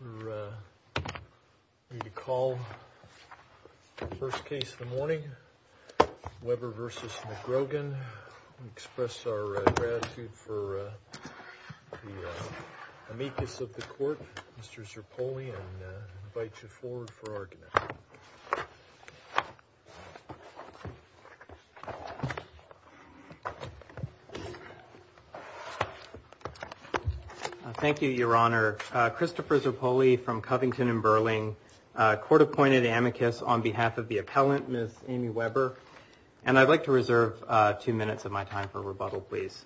We need to call the first case of the morning, Weber v. McGrogan, and express our gratitude for the amicus of the court, Mr. Zerpulli, and invite you forward for argument. Thank you, Your Honor. Christopher Zerpulli from Covington and Burling. Court-appointed amicus on behalf of the appellant, Ms. Amy Weber. And I'd like to reserve two minutes of my time for rebuttal, please.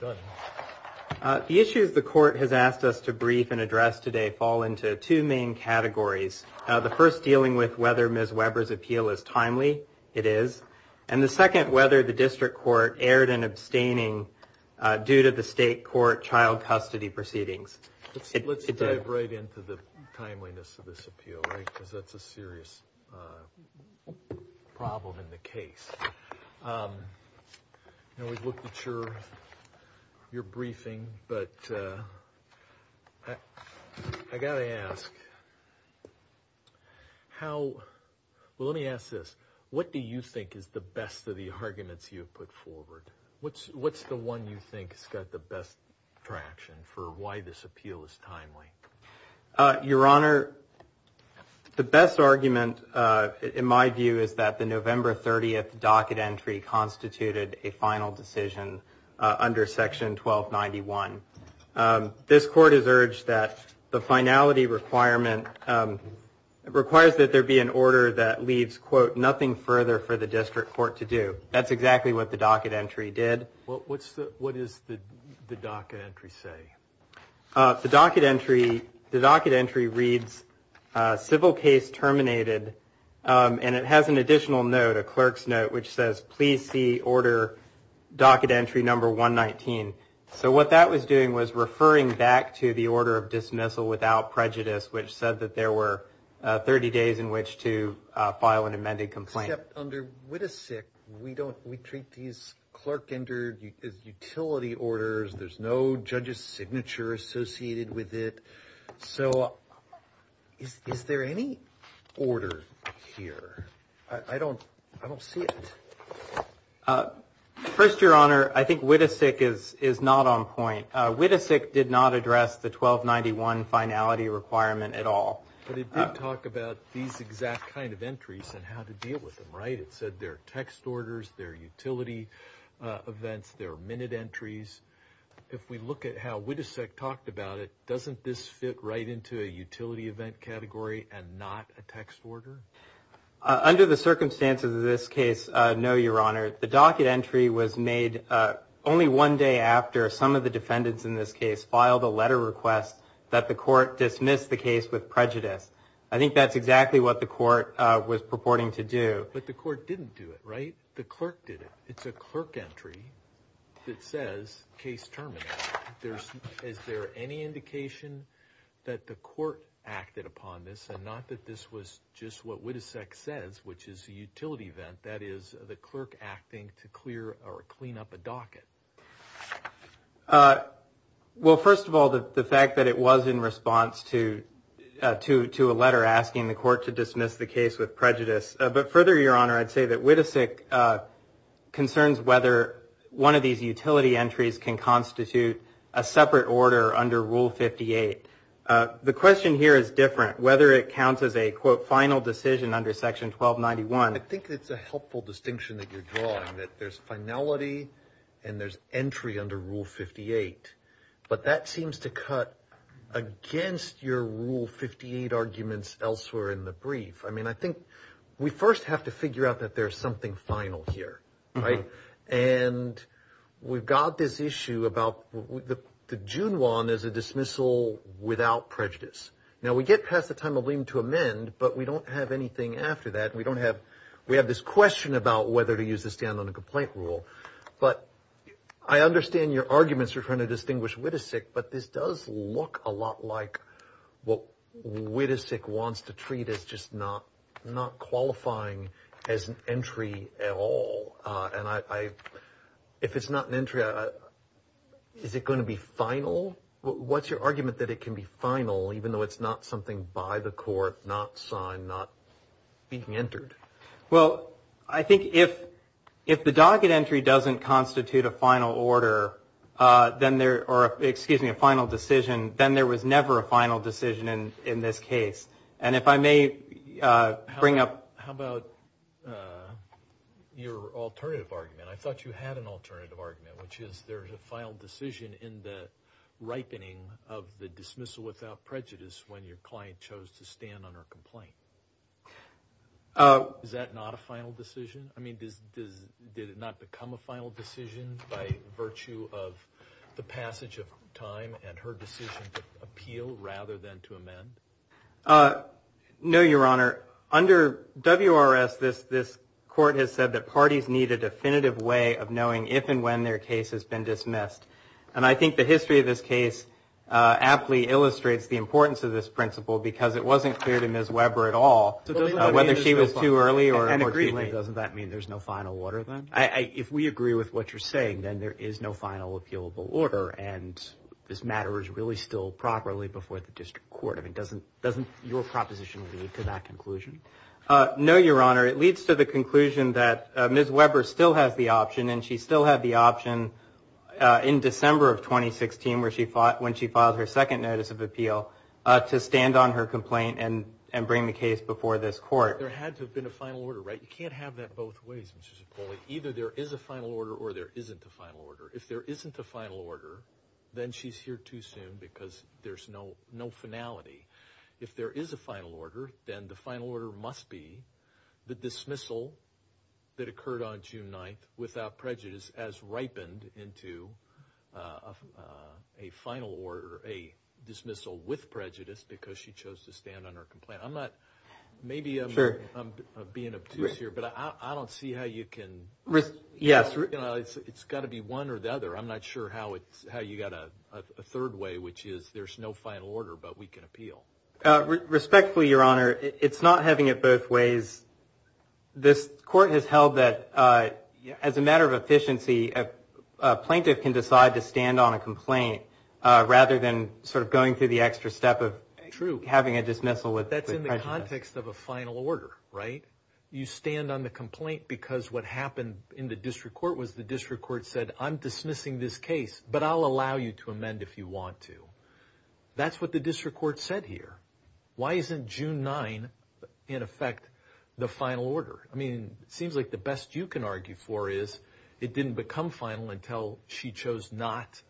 The issues the court has asked us to brief and address today fall into two main categories. The first, dealing with whether Ms. Weber's appeal is timely. It is. And the second, whether the district court erred in abstaining due to the state court child custody proceedings. Let's dive right into the timeliness of this appeal, right? Because that's a serious problem in the case. Now, we've looked at your briefing, but I got to ask, how, well, let me ask this. What do you think is the best of the arguments you've put forward? What's the one you think has got the best traction for why this appeal is timely? Your Honor, the best argument, in my view, is that the November 30th docket entry constituted a final decision under section 1291. This court has urged that the finality requirement requires that there be an order that leaves, quote, nothing further for the district court to do. That's exactly what the docket entry did. What does the docket entry say? The docket entry reads, civil case terminated. And it has an additional note, a clerk's note, which says, please see order docket entry number 119. So what that was doing was referring back to the order of dismissal without prejudice, which said that there were 30 days in which to file an amended complaint. Except under WITASIC, we treat these clerk-entered utility orders. There's no judge's signature associated with it. So is there any order here? I don't see it. First, Your Honor, I think WITASIC is not on point. WITASIC did not address the 1291 finality requirement at all. But it did talk about these exact kind of entries and how to deal with them, right? It said there are text orders, there are utility events, there are minute entries. If we look at how WITASIC talked about it, doesn't this fit right into a utility event category and not a text order? Under the circumstances of this case, no, Your Honor. The docket entry was made only one day after some of the defendants in this case filed a letter request that the court dismissed the case with prejudice. I think that's exactly what the court was purporting to do. But the court didn't do it, right? The clerk did it. It's a clerk entry that says, case terminated. Is there any indication that the court acted upon this and not that this was just what WITASIC says, which is a utility event, that is the clerk acting to clear or clean up a docket? Well, first of all, the fact that it was in response to a letter asking the court to dismiss the case with prejudice. But further, Your Honor, I'd say that WITASIC concerns whether one of these utility entries can constitute a separate order under Rule 58. The question here is different, whether it counts as a, quote, final decision under Section 1291. I think it's a helpful distinction that you're drawing, that there's finality and there's entry under Rule 58. But that seems to cut against your Rule 58 arguments elsewhere in the brief. I mean, I think we first have to figure out that there's something final here, right? And we've got this issue about the June one as a dismissal without prejudice. Now, we get past the time of lien to amend, but we don't have anything after that. We don't have, we have this question about whether to use the stand on a complaint rule. But I understand your arguments are trying to distinguish WITASIC, but this does look a lot like what WITASIC wants to treat as just not qualifying as an entry at all. And I, if it's not an entry, is it going to be final? What's your argument that it can be final, even though it's not something by the court, not signed, not being entered? Well, I think if the docket entry doesn't constitute a final order, then there, or excuse me, a final decision, then there was never a final decision in this case. And if I may bring up... How about your alternative argument? I thought you had an alternative argument, which is there's a final decision in the ripening of the dismissal without complaint. Is that not a final decision? I mean, does, did it not become a final decision by virtue of the passage of time and her decision to appeal rather than to amend? No, Your Honor. Under WRS, this court has said that parties need a definitive way of knowing if and when their case has been dismissed. And I think the history of this case aptly illustrates the importance of this principle because it wasn't clear to Ms. Weber at all whether she was too early or too late. Doesn't that mean there's no final order then? If we agree with what you're saying, then there is no final appealable order. And this matter is really still properly before the district court. I mean, doesn't, doesn't your proposition lead to that conclusion? No, Your Honor. It leads to the conclusion that Ms. Weber still has the option and she still had the option in December of 2016, when she filed her second notice of appeal, to stand on her complaint and bring the case before this court. There had to have been a final order, right? You can't have that both ways, Mr. Cipolli. Either there is a final order or there isn't a final order. If there isn't a final order, then she's here too soon because there's no finality. If there is a final order, then the final order must be the dismissal that occurred on June 9th without prejudice as ripened into a final order, a dismissal with prejudice, because she chose to stand on her complaint. I'm not, maybe I'm being obtuse here, but I don't see how you can, you know, it's got to be one or the other. I'm not sure how it's, how you got a third way, which is there's no final order, but we can appeal. Respectfully, Your Honor, it's not having it both ways. This court has held that as a matter of efficiency, a plaintiff can decide to stand on a complaint rather than sort of going through the extra step of having a dismissal with prejudice. That's in the context of a final order, right? You stand on the complaint because what happened in the district court was the district court said, I'm dismissing this case, but I'll allow you to amend if you want to. That's what the district court said here. Why isn't June 9 in effect the final order? I mean, it seems like the best you can argue for is it didn't become final until she chose not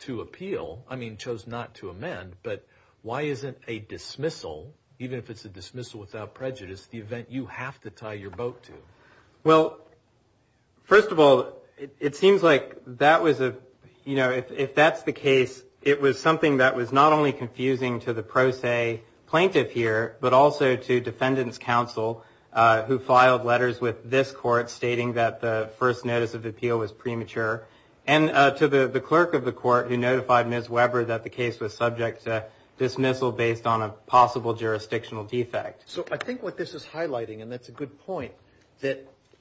to appeal. I mean, chose not to amend, but why isn't a dismissal, even if it's a dismissal without prejudice, the event you have to tie your boat to? Well, first of all, it seems like that was a, you know, if that's the case, it was something that was not only confusing to the letters with this court stating that the first notice of appeal was premature and to the clerk of the court who notified Ms. Weber that the case was subject to dismissal based on a possible jurisdictional defect. So I think what this is highlighting, and that's a good point, that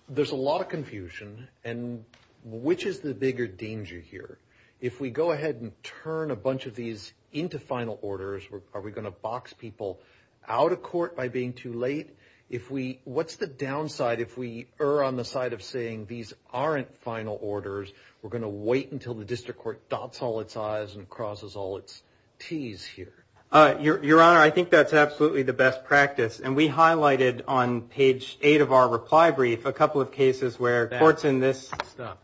there's a lot of confusion and which is the bigger danger here? If we go ahead and turn a bunch of these into final orders, are we going to box people out of court by being too late? If we, what's the downside if we err on the side of saying these aren't final orders? We're going to wait until the district court dots all its I's and crosses all its T's here? Your Honor, I think that's absolutely the best practice. And we highlighted on page eight of our reply brief, a couple of cases where courts in this... Stop.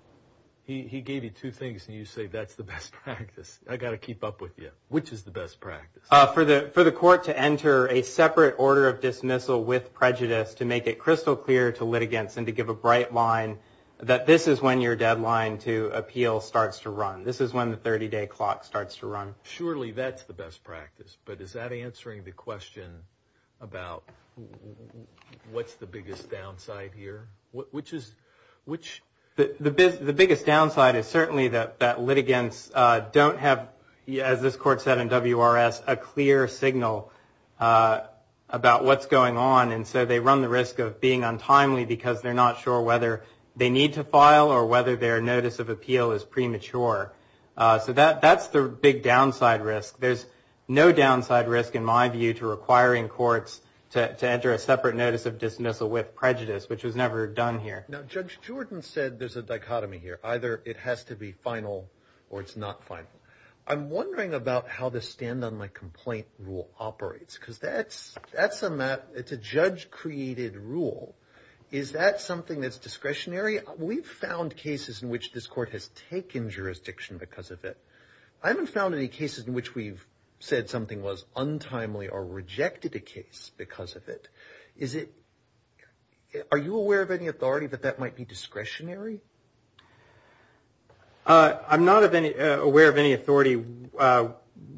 He gave you two things and you say, that's the best practice. I got to keep up with you. Which is the best practice? For the court to enter a separate order of dismissal with prejudice to make it crystal clear to litigants and to give a bright line that this is when your deadline to appeal starts to run. This is when the 30 day clock starts to run. Surely that's the best practice, but is that answering the question about what's the biggest downside here? Which is... The biggest downside is certainly that litigants don't have, as this court said in WRS, a clear signal about what's going on. And so they run the risk of being untimely because they're not sure whether they need to file or whether their notice of appeal is premature. So that's the big downside risk. There's no downside risk in my view to requiring courts to enter a separate notice of dismissal with prejudice, which was never done here. Now, Judge Jordan said there's a dichotomy here. Either it has to be final or it's not final. I'm wondering about how this stand on my complaint rule operates, because that's a judge created rule. Is that something that's discretionary? We've found cases in which this court has taken jurisdiction because of it. I haven't found any cases in which we've said something was untimely or rejected a case because of it. Are you aware of any authority that that might be discretionary? I'm not aware of any authority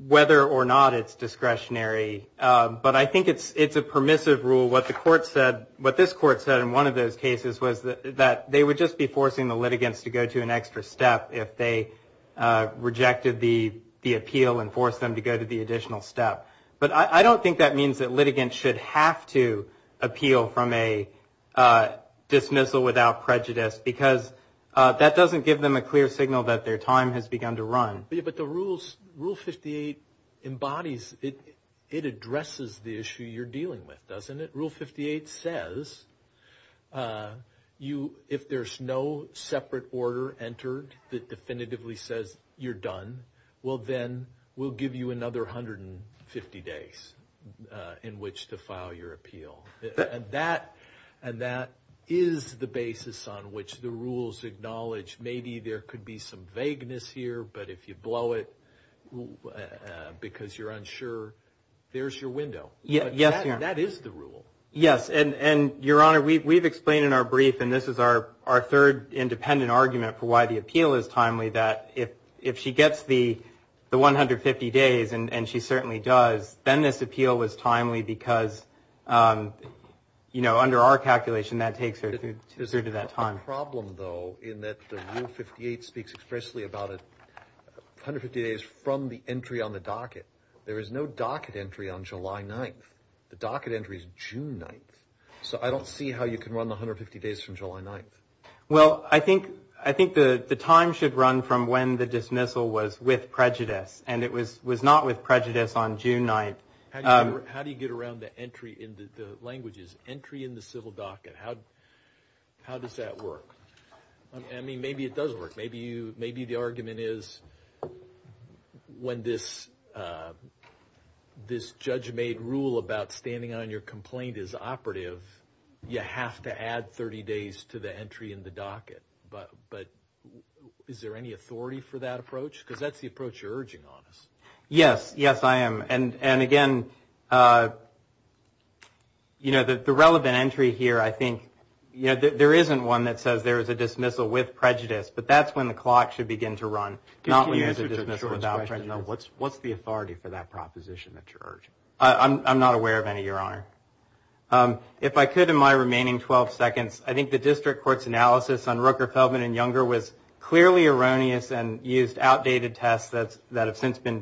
whether or not it's discretionary. But I think it's a permissive rule. What this court said in one of those cases was that they would just be forcing the litigants to go to an extra step if they rejected the appeal and forced them to go to the additional step. But I don't think that means that litigants should have to appeal from a dismissal without prejudice, because that doesn't give them a clear signal that their time has begun to run. But the rules, Rule 58 embodies, it addresses the issue you're dealing with, doesn't it? Rule 58 says if there's no separate order entered that definitively says you're done, well, then we'll another 150 days in which to file your appeal. And that is the basis on which the rules acknowledge maybe there could be some vagueness here, but if you blow it because you're unsure, there's your window. But that is the rule. Yes, and Your Honor, we've explained in our brief, and this is our third independent argument for why the appeal is timely, that if she gets the 150 days, and she certainly does, then this appeal was timely because under our calculation, that takes her through to that time. There's a problem, though, in that the Rule 58 speaks expressly about 150 days from the entry on the docket. There is no docket entry on July 9th. The docket entry is June 9th. So I don't see how you can run the 150 days from July 9th. Well, I think the time should run from when the dismissal was with prejudice, and it was not with prejudice on June 9th. How do you get around the entry in the languages, entry in the civil docket? How does that work? I mean, maybe it doesn't work. Maybe the argument is when this judge-made rule about standing on your complaint is operative, you have to add 30 days to the entry in the docket. But is there any authority for that approach? Because that's the approach you're urging on us. Yes, yes, I am. And again, you know, the relevant entry here, I think, you know, there isn't one that says there is a dismissal with prejudice, but that's when the clock should begin to run, not when there's a dismissal without prejudice. What's the authority for that proposition that you're urging? I'm not aware of any, Your Honor. If I could, in my remaining 12 seconds, I think the district court's analysis on Rooker, Feldman, and Younger was clearly erroneous and used outdated tests that have since been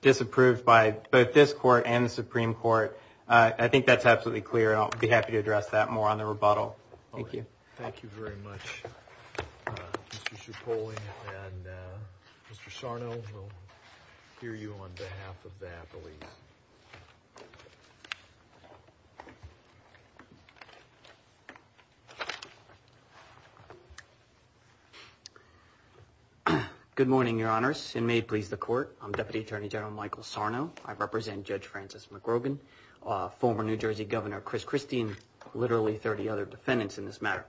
disapproved by both this court and the Supreme Court. I think that's absolutely clear, and I'll be happy to address that more on the rebuttal. Thank you very much, Mr. Cipollone. And Mr. Sarno, we'll hear you on behalf of that. Good morning, Your Honors. And may it please the court, I'm Deputy Attorney General Michael Sarno. I represent Judge Francis McGrogan, former New Jersey Governor Chris Christie, and literally 30 defendants in this matter.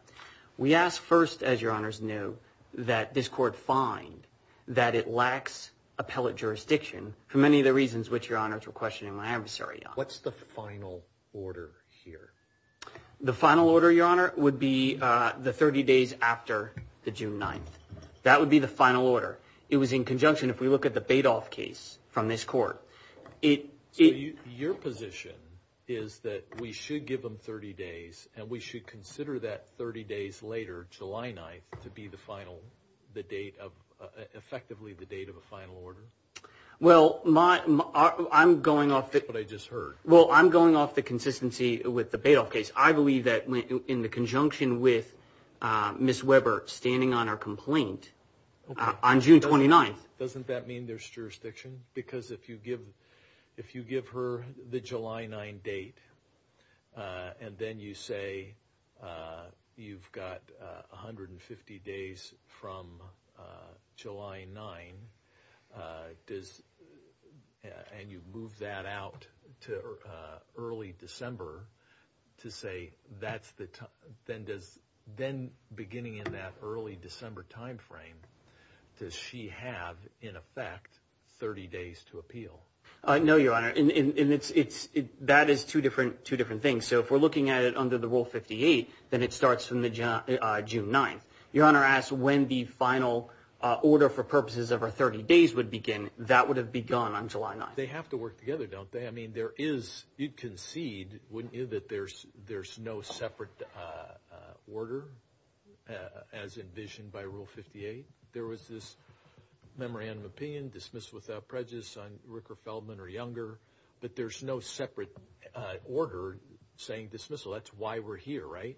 We ask first, as Your Honors know, that this court find that it lacks appellate jurisdiction for many of the reasons which Your Honors were questioning my adversary on. What's the final order here? The final order, Your Honor, would be the 30 days after the June 9th. That would be the final order. It was in conjunction, if we look at the Badoff case from this court. Your position is that we should give them 30 days, and we should consider that 30 days later, July 9th, to be effectively the date of a final order? Well, I'm going off the consistency with the Badoff case. I believe that in conjunction with Ms. Weber standing on her complaint on June 29th. Doesn't that mean there's jurisdiction? Because if you give her the July 9th date, and then you say you've got 150 days from July 9th, and you move that out to early December, then beginning in that early December timeframe, does she have, in effect, 30 days to appeal? No, Your Honor. That is two different things. If we're looking at it under the Rule 58, then it starts from June 9th. Your Honor asked when the final order for purposes of our 30 days would begin. That would have begun on July 9th. They have to work together, don't they? You can concede, wouldn't you, that there's no separate order as envisioned by Rule 58? There was this memorandum of opinion, dismiss without prejudice on Ricker, Feldman, or Younger, but there's no separate order saying dismissal. That's why we're here, right?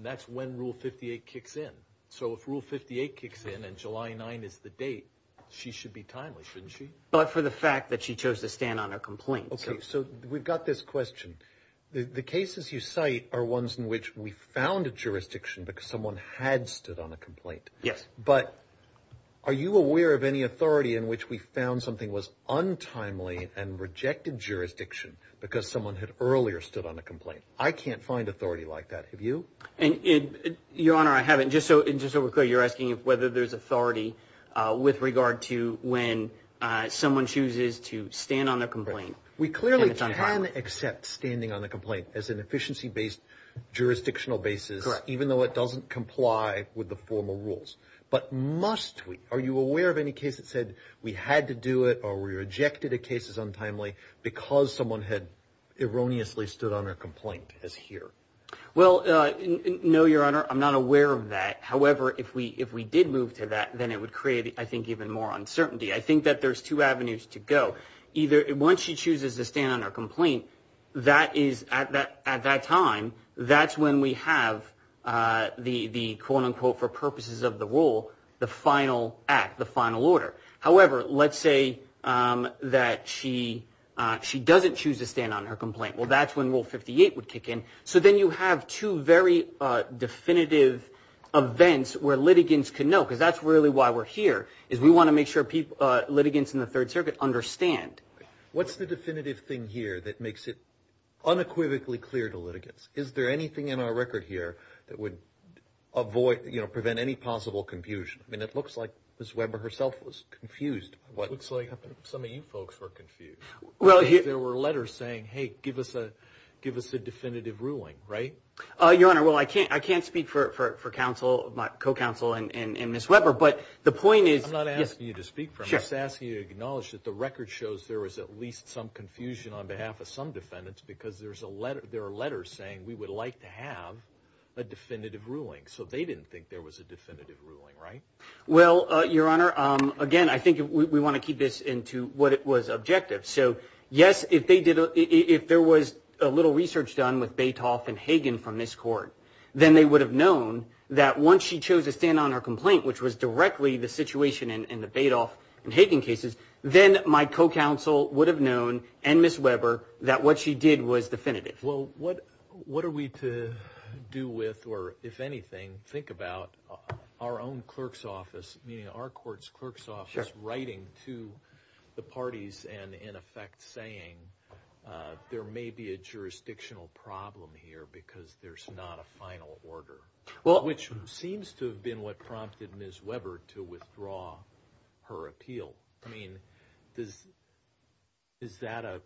That's when Rule 58 kicks in. So if Rule 58 kicks in and July 9th is the date, she should be timely, shouldn't she? But for the fact that she chose to stand on a complaint. Okay, so we've got this question. The cases you cite are ones in which we found a jurisdiction because someone had stood on a complaint. Yes. But are you aware of any authority in which we found something was untimely and rejected jurisdiction because someone had earlier stood on a complaint? I can't find authority like that. Have you? Your Honor, I haven't. Just so we're clear, you're asking whether there's authority with regard to when someone chooses to stand on a complaint. We clearly can accept standing on a complaint as an efficiency-based jurisdictional basis, even though it doesn't comply with the formal rules. But must we? Are you aware of any case that said we had to do it or we rejected a case as untimely because someone had erroneously stood on a complaint as here? Well, no, Your Honor. I'm not aware of that. However, if we did move to that, then it would create, I think, even more uncertainty. I think that there's two avenues to go. Either once she chooses to stand on her complaint, at that time, that's when we have the quote-unquote for purposes of the rule, the final act, the final order. However, let's say that she doesn't choose to stand on her complaint. That's when we have the definitive events where litigants can know, because that's really why we're here, is we want to make sure litigants in the Third Circuit understand. What's the definitive thing here that makes it unequivocally clear to litigants? Is there anything in our record here that would prevent any possible confusion? I mean, it looks like Ms. Weber herself was confused. It looks like some of you folks were confused. There were letters saying, hey, give us a definitive ruling, right? Your Honor, well, I can't speak for my co-counsel and Ms. Weber, but the point is- I'm not asking you to speak for her. I'm just asking you to acknowledge that the record shows there was at least some confusion on behalf of some defendants because there are letters saying we would like to have a definitive ruling. They didn't think there was a definitive ruling, right? Well, Your Honor, again, I think we want to keep this into what was objective. Yes, if there was a little research done with Badoff and Hagen from this court, then they would have known that once she chose to stand on her complaint, which was directly the situation in the Badoff and Hagen cases, then my co-counsel would have known and Ms. Weber that what she did was definitive. Well, what are we to do with, or if anything, think about our own clerk's office, meaning our court's clerk's office writing to the parties and in effect saying there may be a jurisdictional problem here because there's not a final order, which seems to have been what prompted Ms. Weber to withdraw her appeal. I mean, is that a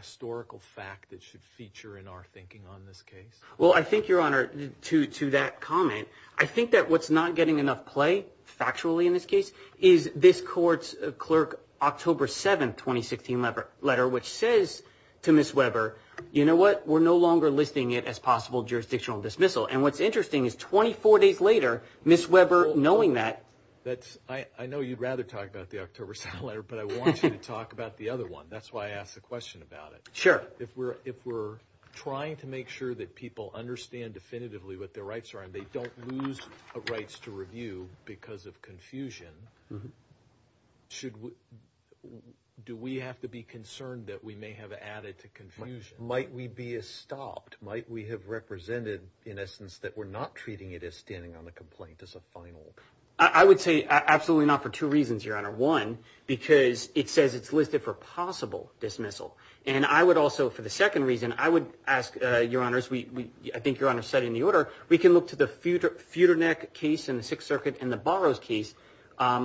historical fact that should feature in our thinking on this case? Well, I think, Your Honor, to that comment, I think that what's not getting enough play, factually in this case, is this court's clerk, October 7th, 2016 letter, which says to Ms. Weber, you know what? We're no longer listing it as possible jurisdictional dismissal. And what's interesting is 24 days later, Ms. Weber knowing that- I know you'd rather talk about the October 7th letter, but I want you to talk about the other one. That's why I asked the question about it. Sure. If we're trying to make sure that people understand definitively what their rights are and they don't lose rights to review because of confusion, do we have to be concerned that we may have added to confusion? Might we be stopped? Might we have represented, in essence, that we're not treating it as standing on the complaint as a final? I would say absolutely not for two reasons, Your Honor. One, because it says it's listed for possible dismissal. And I would also, for the second reason, I would ask, Your Honor, as I think Your Honor said in the order, we can look to the Feudernick case in the Sixth Circuit and the Burroughs case,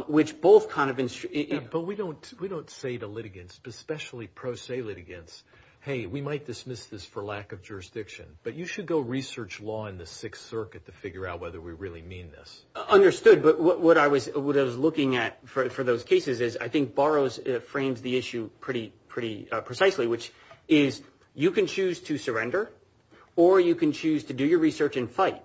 which both kind of- But we don't say to litigants, especially pro se litigants, hey, we might dismiss this for lack of jurisdiction, but you should go research law in the Sixth Circuit to figure out whether we really mean this. Understood. But what I was looking at for those cases is I think Burroughs frames the issue pretty precisely, which is you can choose to surrender or you can choose to do your research and fight.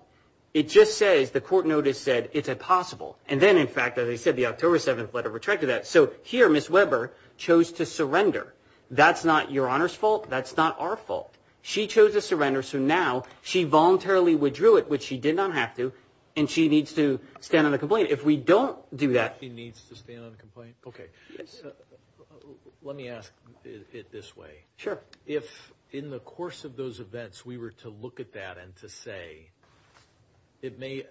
It just says the court notice said it's impossible. And then, in fact, as I said, the October 7th letter retracted that. So here, Ms. Weber chose to surrender. That's not Your Honor's fault. That's not our fault. She chose to surrender. So now she voluntarily withdrew it, which she did not have to, and she needs to stand on the complaint. If we don't do that- She needs to stand on the complaint? Okay. Yes. Let me ask it this way. Sure. If in the course of those events we were to look at that and to say, it may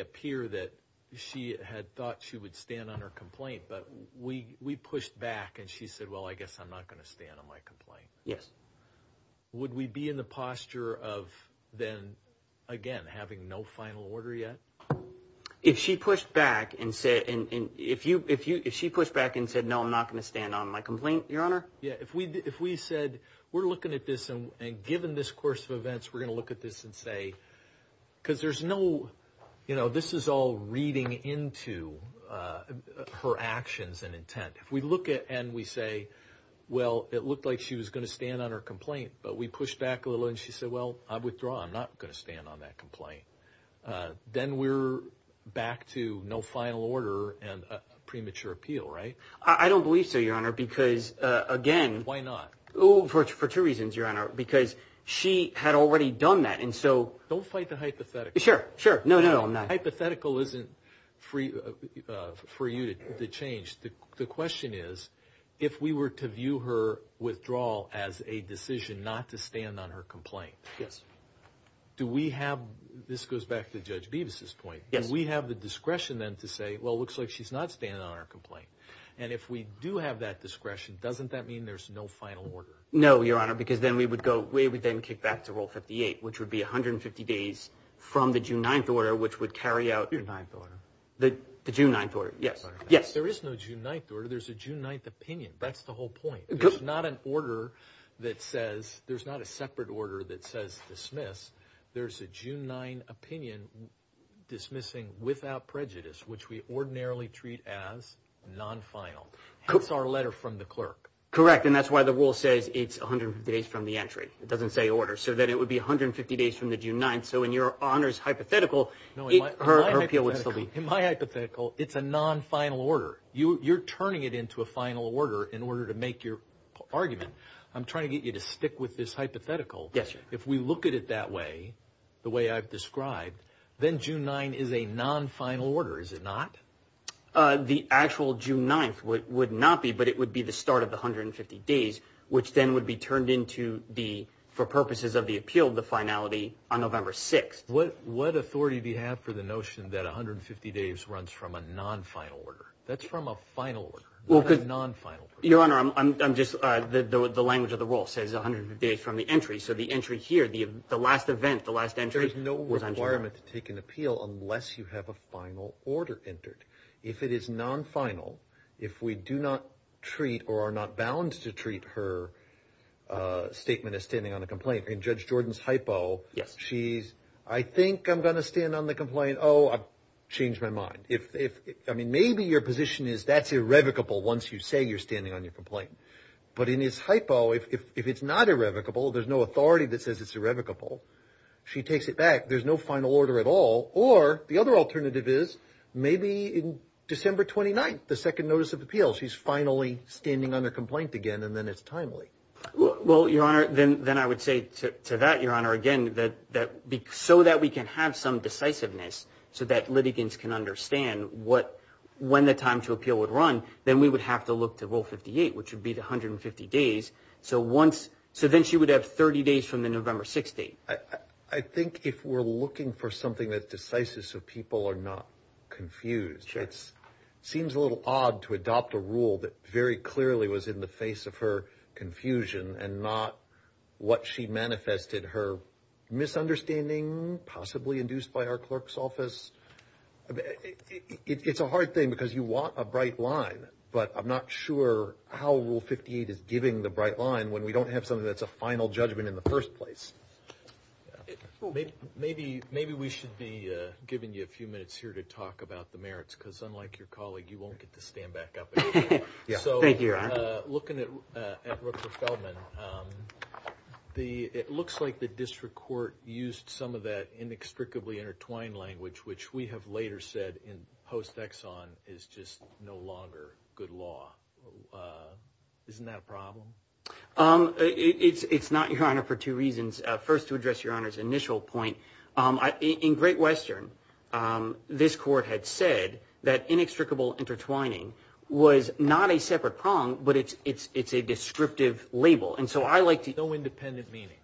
appear that she had thought she would stand on her complaint, but we pushed back and she said, well, I guess I'm not going to stand on my complaint. Yes. Would we be in the posture of then, again, having no final order yet? If she pushed back and said, no, I'm not going to stand on my complaint, Your Honor? Yes. If we said, we're looking at this and given this course of events, we're going to look at this and say, because there's no, this is all reading into her actions and intent. If we look at it and we say, well, it looked like she was going to stand on her complaint, but we pushed back a hypothetical, I withdraw. I'm not going to stand on that complaint. Then we're back to no final order and a premature appeal, right? I don't believe so, Your Honor, because again- Why not? For two reasons, Your Honor, because she had already done that and so- Don't fight the hypothetical. Sure. Sure. No, no, I'm not. Hypothetical isn't for you to change. The question is, if we were to view her withdrawal as a do we have, this goes back to Judge Beavis's point, and we have the discretion then to say, well, it looks like she's not standing on our complaint. If we do have that discretion, doesn't that mean there's no final order? No, Your Honor, because then we would go, we would then kick back to Rule 58, which would be 150 days from the June 9th order, which would carry out- The 9th order. The June 9th order. Yes. Yes. There is no June 9th order. There's a June 9th opinion. That's the whole point. There's not an order that says dismiss. There's a June 9th opinion dismissing without prejudice, which we ordinarily treat as non-final. That's our letter from the clerk. Correct, and that's why the rule says it's 150 days from the entry. It doesn't say order, so that it would be 150 days from the June 9th, so in Your Honor's hypothetical, her appeal would still be- No, in my hypothetical, it's a non-final order. You're turning it into a final order in order to make your argument. I'm trying to get you to stick with this hypothetical. Yes, Your Honor. If we look at it that way, the way I've described, then June 9th is a non-final order, is it not? The actual June 9th would not be, but it would be the start of the 150 days, which then would be turned into the, for purposes of the appeal, the finality on November 6th. What authority do you have for the notion that 150 days runs from a non-final order? That's from a final order, not a non-final order. Your Honor, I'm just... The language of the rule says 150 days from the entry, so the entry here, the last event, the last entry- There's no requirement to take an appeal unless you have a final order entered. If it is non-final, if we do not treat or are not bound to treat her statement as standing on a complaint, in Judge Jordan's hypo, she's, I think I'm going to stand on the complaint. Oh, I've changed my mind. Maybe your position is that's irrevocable once you say you're standing on your complaint. But in his hypo, if it's not irrevocable, there's no authority that says it's irrevocable, she takes it back. There's no final order at all. Or the other alternative is maybe in December 29th, the second notice of appeal, she's finally standing on a complaint again, and then it's timely. Well, Your Honor, then I would say to that, Your Honor, again, so that we can have some decisiveness so that litigants can understand when the time to appeal would run, then we would have to look to Rule 58, which would be the 150 days. So then she would have 30 days from the November 6th date. I think if we're looking for something that's decisive so people are not confused, it seems a little odd to adopt a rule that very clearly was in the face of her confusion and not what she was saying. It's a hard thing because you want a bright line, but I'm not sure how Rule 58 is giving the bright line when we don't have something that's a final judgment in the first place. Maybe we should be giving you a few minutes here to talk about the merits, because unlike your colleague, you won't get to stand back up. Looking at Rupert Feldman, it looks like the district court used some of that inextricably intertwined language, which we have later said in post-Exxon is just no longer good law. Isn't that a problem? It's not, Your Honor, for two reasons. First, to address Your Honor's initial point. In Great Western, this court had said that inextricable intertwining was not a separate prong, but it's a descriptive label. Has no independent meaning.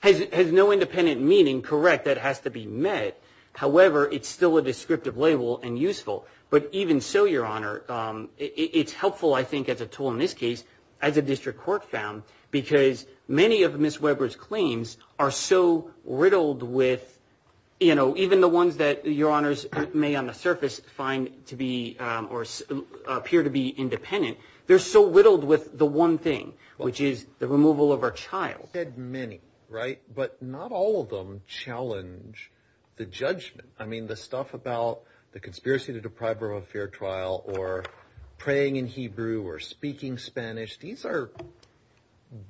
Has no independent meaning, correct, that has to be met. However, it's still a descriptive label and useful, but even so, Your Honor, it's helpful, I think, as a tool in this case, as a district court found, because many of Ms. Weber's claims are so riddled with, you know, even the ones that Your Honors may on the surface find to be or appear to be independent. They're so riddled with the one thing, which is the removal of her child. You said many, right? But not all of them challenge the judgment. I mean, the stuff about the conspiracy to deprive her of a fair trial or praying in Hebrew or speaking Spanish, these are,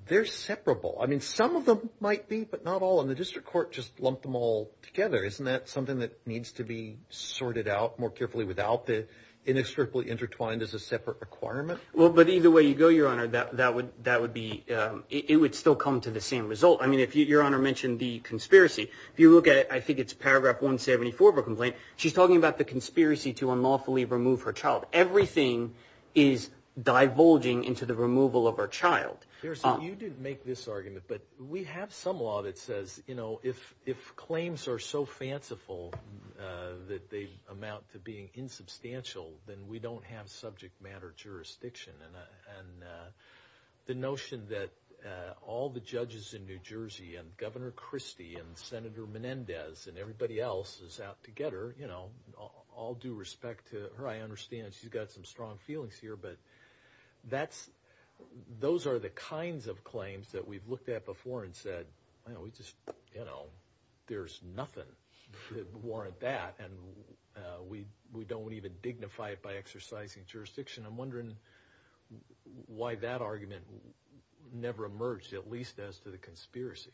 they're separable. I mean, some of them might be, but not all. And the district court just lumped them all together. Isn't that something that needs to be sorted out more carefully without the inextricably intertwined as a separate requirement? Well, but either way you go, Your Honor, that would be, it would still come to the same result. I mean, if Your Honor mentioned the conspiracy, if you look at it, I think it's paragraph 174 of a complaint, she's talking about the conspiracy to unlawfully remove her child. Everything is divulging into the removal of her child. Your Honor, you didn't make this argument, but we have some law that says, you know, if claims are so fanciful that they amount to being insubstantial, then we don't have subject matter jurisdiction. And the notion that all the judges in New Jersey and Governor Christie and Senator Menendez and everybody else is out to get her, you know, all due respect to her, I understand she's got some strong feelings here, but that's, those are the kinds of claims that we've looked at before and said, well, we just, you know, there's nothing that warrant that. And we don't even dignify it by exercising jurisdiction. I'm wondering why that argument never emerged, at least as to the conspiracy.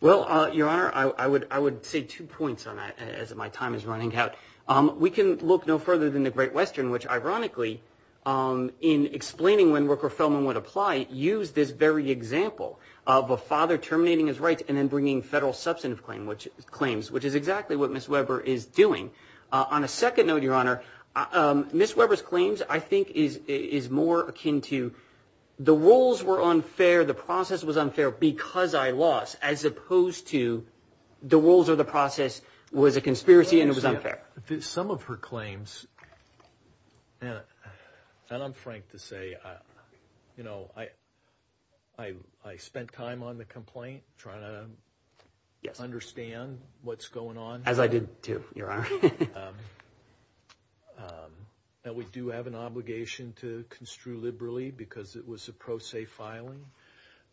Well, Your Honor, I would say two points on that as my time is running out. We can look no further than the Great Western, which ironically, in explaining when Rooker-Feldman would apply, used this very example of a father terminating his rights and then bringing federal substantive claims, which is exactly what Ms. Weber is doing. On a second note, Your Honor, Ms. Weber's claims, I think is more akin to the rules were unfair. The process was unfair because I lost as opposed to the rules or the process was a conspiracy and it was unfair. Some of her claims, and I'm frank to say, you know, I spent time on the complaint, trying to understand what's going on. As I did too, Your Honor. And we do have an obligation to construe liberally because it was a pro se filing.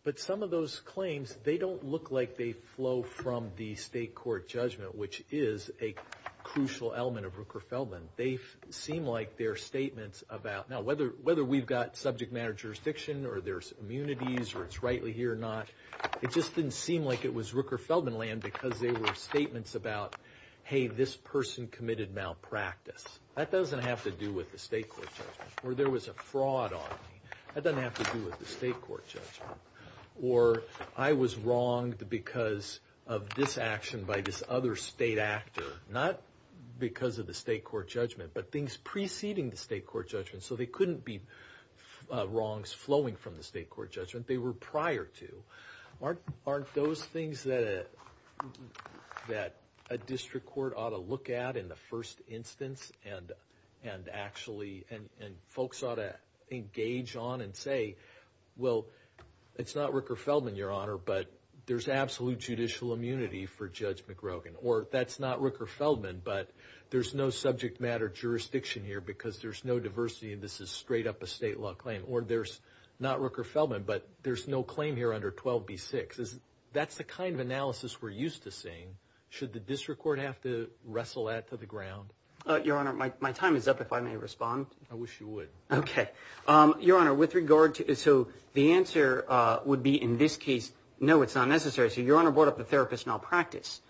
But some of those claims, they don't look like they flow from the state court judgment, which is a crucial element of Rooker-Feldman. They seem like they're statements about, now, whether we've got subject matter jurisdiction or there's immunities or it's rightly here or not, it just didn't seem like it was Rooker-Feldman land because they were statements about, hey, this person committed malpractice. That doesn't have to do with the state court judgment or there was a fraud on me. That doesn't have to do with the state court judgment or I was wronged because of this state actor, not because of the state court judgment, but things preceding the state court judgment. So they couldn't be wrongs flowing from the state court judgment. They were prior to. Aren't those things that a district court ought to look at in the first instance and actually, and folks ought to engage on and say, well, it's not Rooker-Feldman, Your Honor, but there's absolute judicial immunity for Judge McGrogan. Or that's not Rooker-Feldman, but there's no subject matter jurisdiction here because there's no diversity and this is straight up a state law claim. Or there's not Rooker-Feldman, but there's no claim here under 12b6. That's the kind of analysis we're used to seeing. Should the district court have to wrestle that to the ground? Your Honor, my time is up if I may respond. I wish you would. Okay. Your Honor, with regard to, so the answer would be in this case, no, it's not necessary. So Your Honor brought up the therapist malpractice.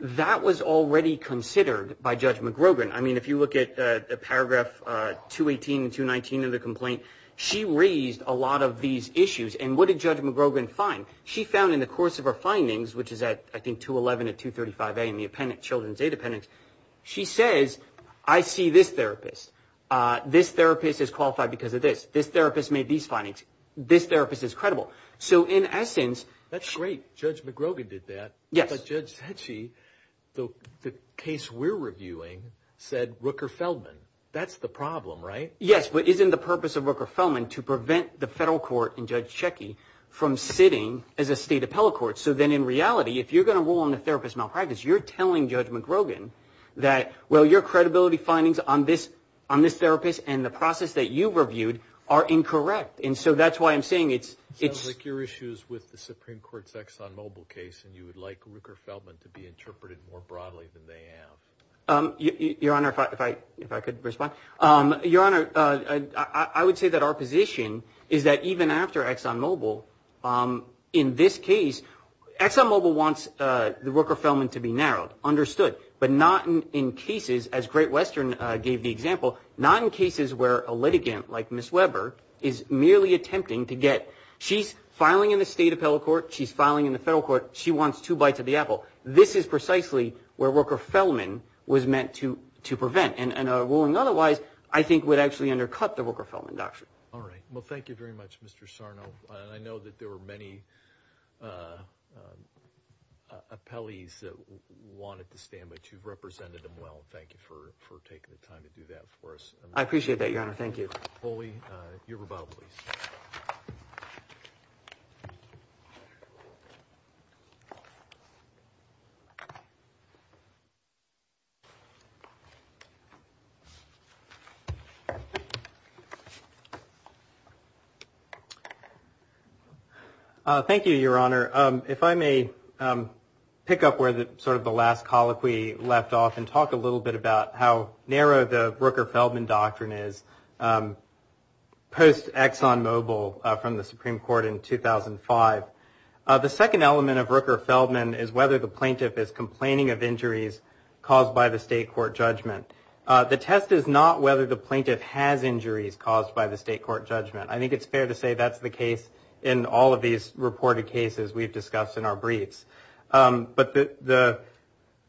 That was already considered by Judge McGrogan. I mean, if you look at the paragraph 218 and 219 of the complaint, she raised a lot of these issues. And what did Judge McGrogan find? She found in the course of her findings, which is at, I think, 211 and 235a in the appendix, children's aid appendix. She says, I see this therapist. This therapist is qualified because of this. This therapist made these findings. This therapist is credible. So in essence... That's great. Judge McGrogan did that. Yes. But Judge Cecchi, the case we're reviewing, said Rooker-Feldman. That's the problem, right? Yes. But isn't the purpose of Rooker-Feldman to prevent the federal court and Judge Cecchi from sitting as a state appellate court? So then in reality, if you're going to rule on the therapist malpractice, you're telling Judge McGrogan that, well, your credibility findings on this therapist and the process that you reviewed are incorrect. And so that's why I'm saying it's... Sounds like your issue is with the Supreme Court's ExxonMobil case, and you would like Rooker-Feldman to be interpreted more broadly than they have. Your Honor, if I could respond. Your Honor, I would say that our position is that even after ExxonMobil, in this case, ExxonMobil wants the Rooker-Feldman to be narrowed, understood, but not in cases, as Great Western gave the example, not in cases where a litigant like Ms. Weber is merely attempting to get... She's filing in the state appellate court. She's filing in the federal court. She wants two bites of the apple. This is precisely where Rooker-Feldman was meant to prevent. And ruling otherwise, I think, would actually undercut the Rooker-Feldman doctrine. All right. Well, thank you very much, Mr. Sarno. And I know that there were many appellees that wanted to stand, but you've represented them well. Thank you for taking the time to do that for us. I appreciate that, Your Honor. Thank you. Holey, your rebuttal, please. Thank you, Your Honor. If I may pick up where the last colloquy left off and talk a little bit about how narrow the Rooker-Feldman doctrine is, post-ExxonMobil from the Supreme Court in 2005. The second element of Rooker-Feldman is whether the plaintiff is complaining of injuries caused by the state court judgment. The test is not whether the plaintiff has injuries caused by the state court judgment. I think it's fair to say that's the case in all of these reported cases we've discussed in our briefs. But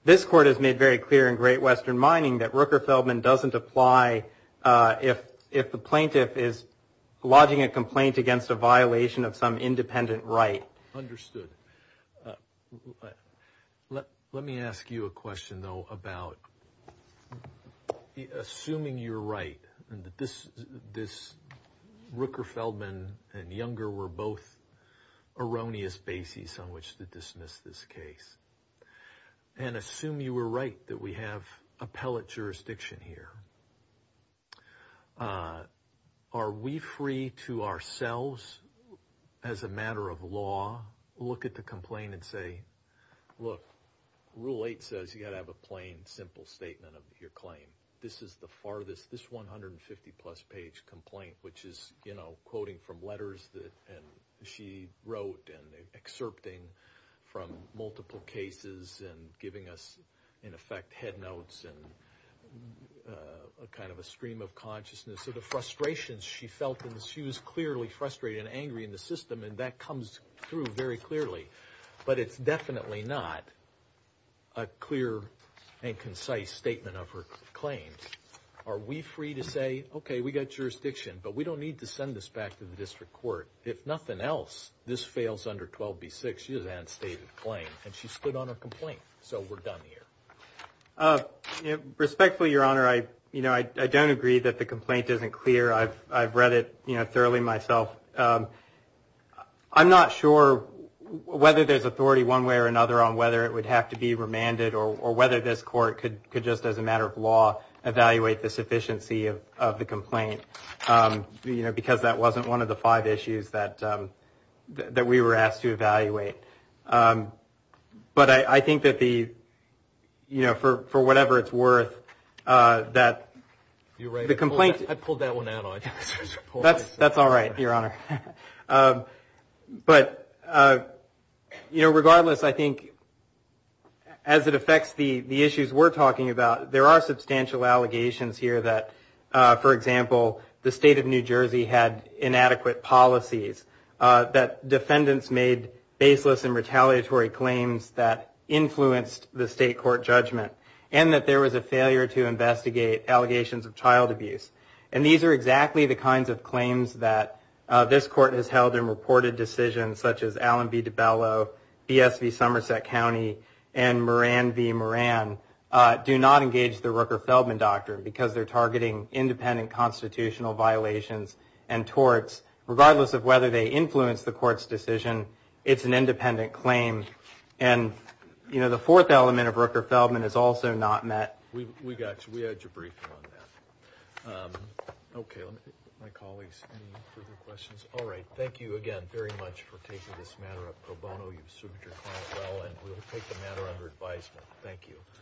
this court has made very clear in Great Western Mining that Rooker-Feldman doesn't apply if the plaintiff is lodging a complaint against a violation of some independent right. Understood. Let me ask you a question, though, about assuming you're right, and that this Rooker-Feldman and Younger were both erroneous bases on which to dismiss this case. And assume you were right that we have appellate jurisdiction here. Are we free to ourselves, as a matter of law, look at the complaint and say, look, Rule 8 says you've got to have a plain, simple statement of your claim. This is the farthest, this 150-plus page complaint, which is, you know, quoting from letters that she wrote and excerpting from multiple cases and giving us, in effect, head notes and a kind of a stream of consciousness. So the frustrations she felt, she was clearly frustrated and angry in the system, and that comes through very clearly. But it's definitely not a clear and concise statement of her claims. Are we free to say, okay, we've got jurisdiction, but we don't need to send this back to the district court. If nothing else, this fails under 12b-6. She does not have a stated claim, and she stood on her complaint. So we're done here. Respectfully, Your Honor, I don't agree that the complaint isn't clear. I've read it, thoroughly, myself. I'm not sure whether there's authority, one way or another, on whether it would have to be remanded or whether this court could just, as a matter of law, evaluate the sufficiency of the complaint, because that wasn't one of the five issues that we were asked to evaluate. But I think that the, you know, for whatever it's worth, that the complaint... I pulled that one out. That's all right, Your Honor. But, you know, regardless, I think, as it affects the issues we're talking about, there are substantial allegations here that, for example, the state of New Jersey had inadequate policies, that defendants made baseless and retaliatory claims that influenced the state judgment, and that there was a failure to investigate allegations of child abuse. And these are exactly the kinds of claims that this court has held in reported decisions, such as Allen v. DiBello, BSV Somerset County, and Moran v. Moran, do not engage the Rooker-Feldman doctrine, because they're targeting independent constitutional violations and torts, regardless of whether they influence the court's decision. It's an independent claim. And, you know, the Rooker-Feldman is also not met. We got you. We had your briefing on that. Okay, my colleagues, any further questions? All right. Thank you again very much for taking this matter up pro bono. You've served your client well, and we'll take the matter under advisement. Thank you.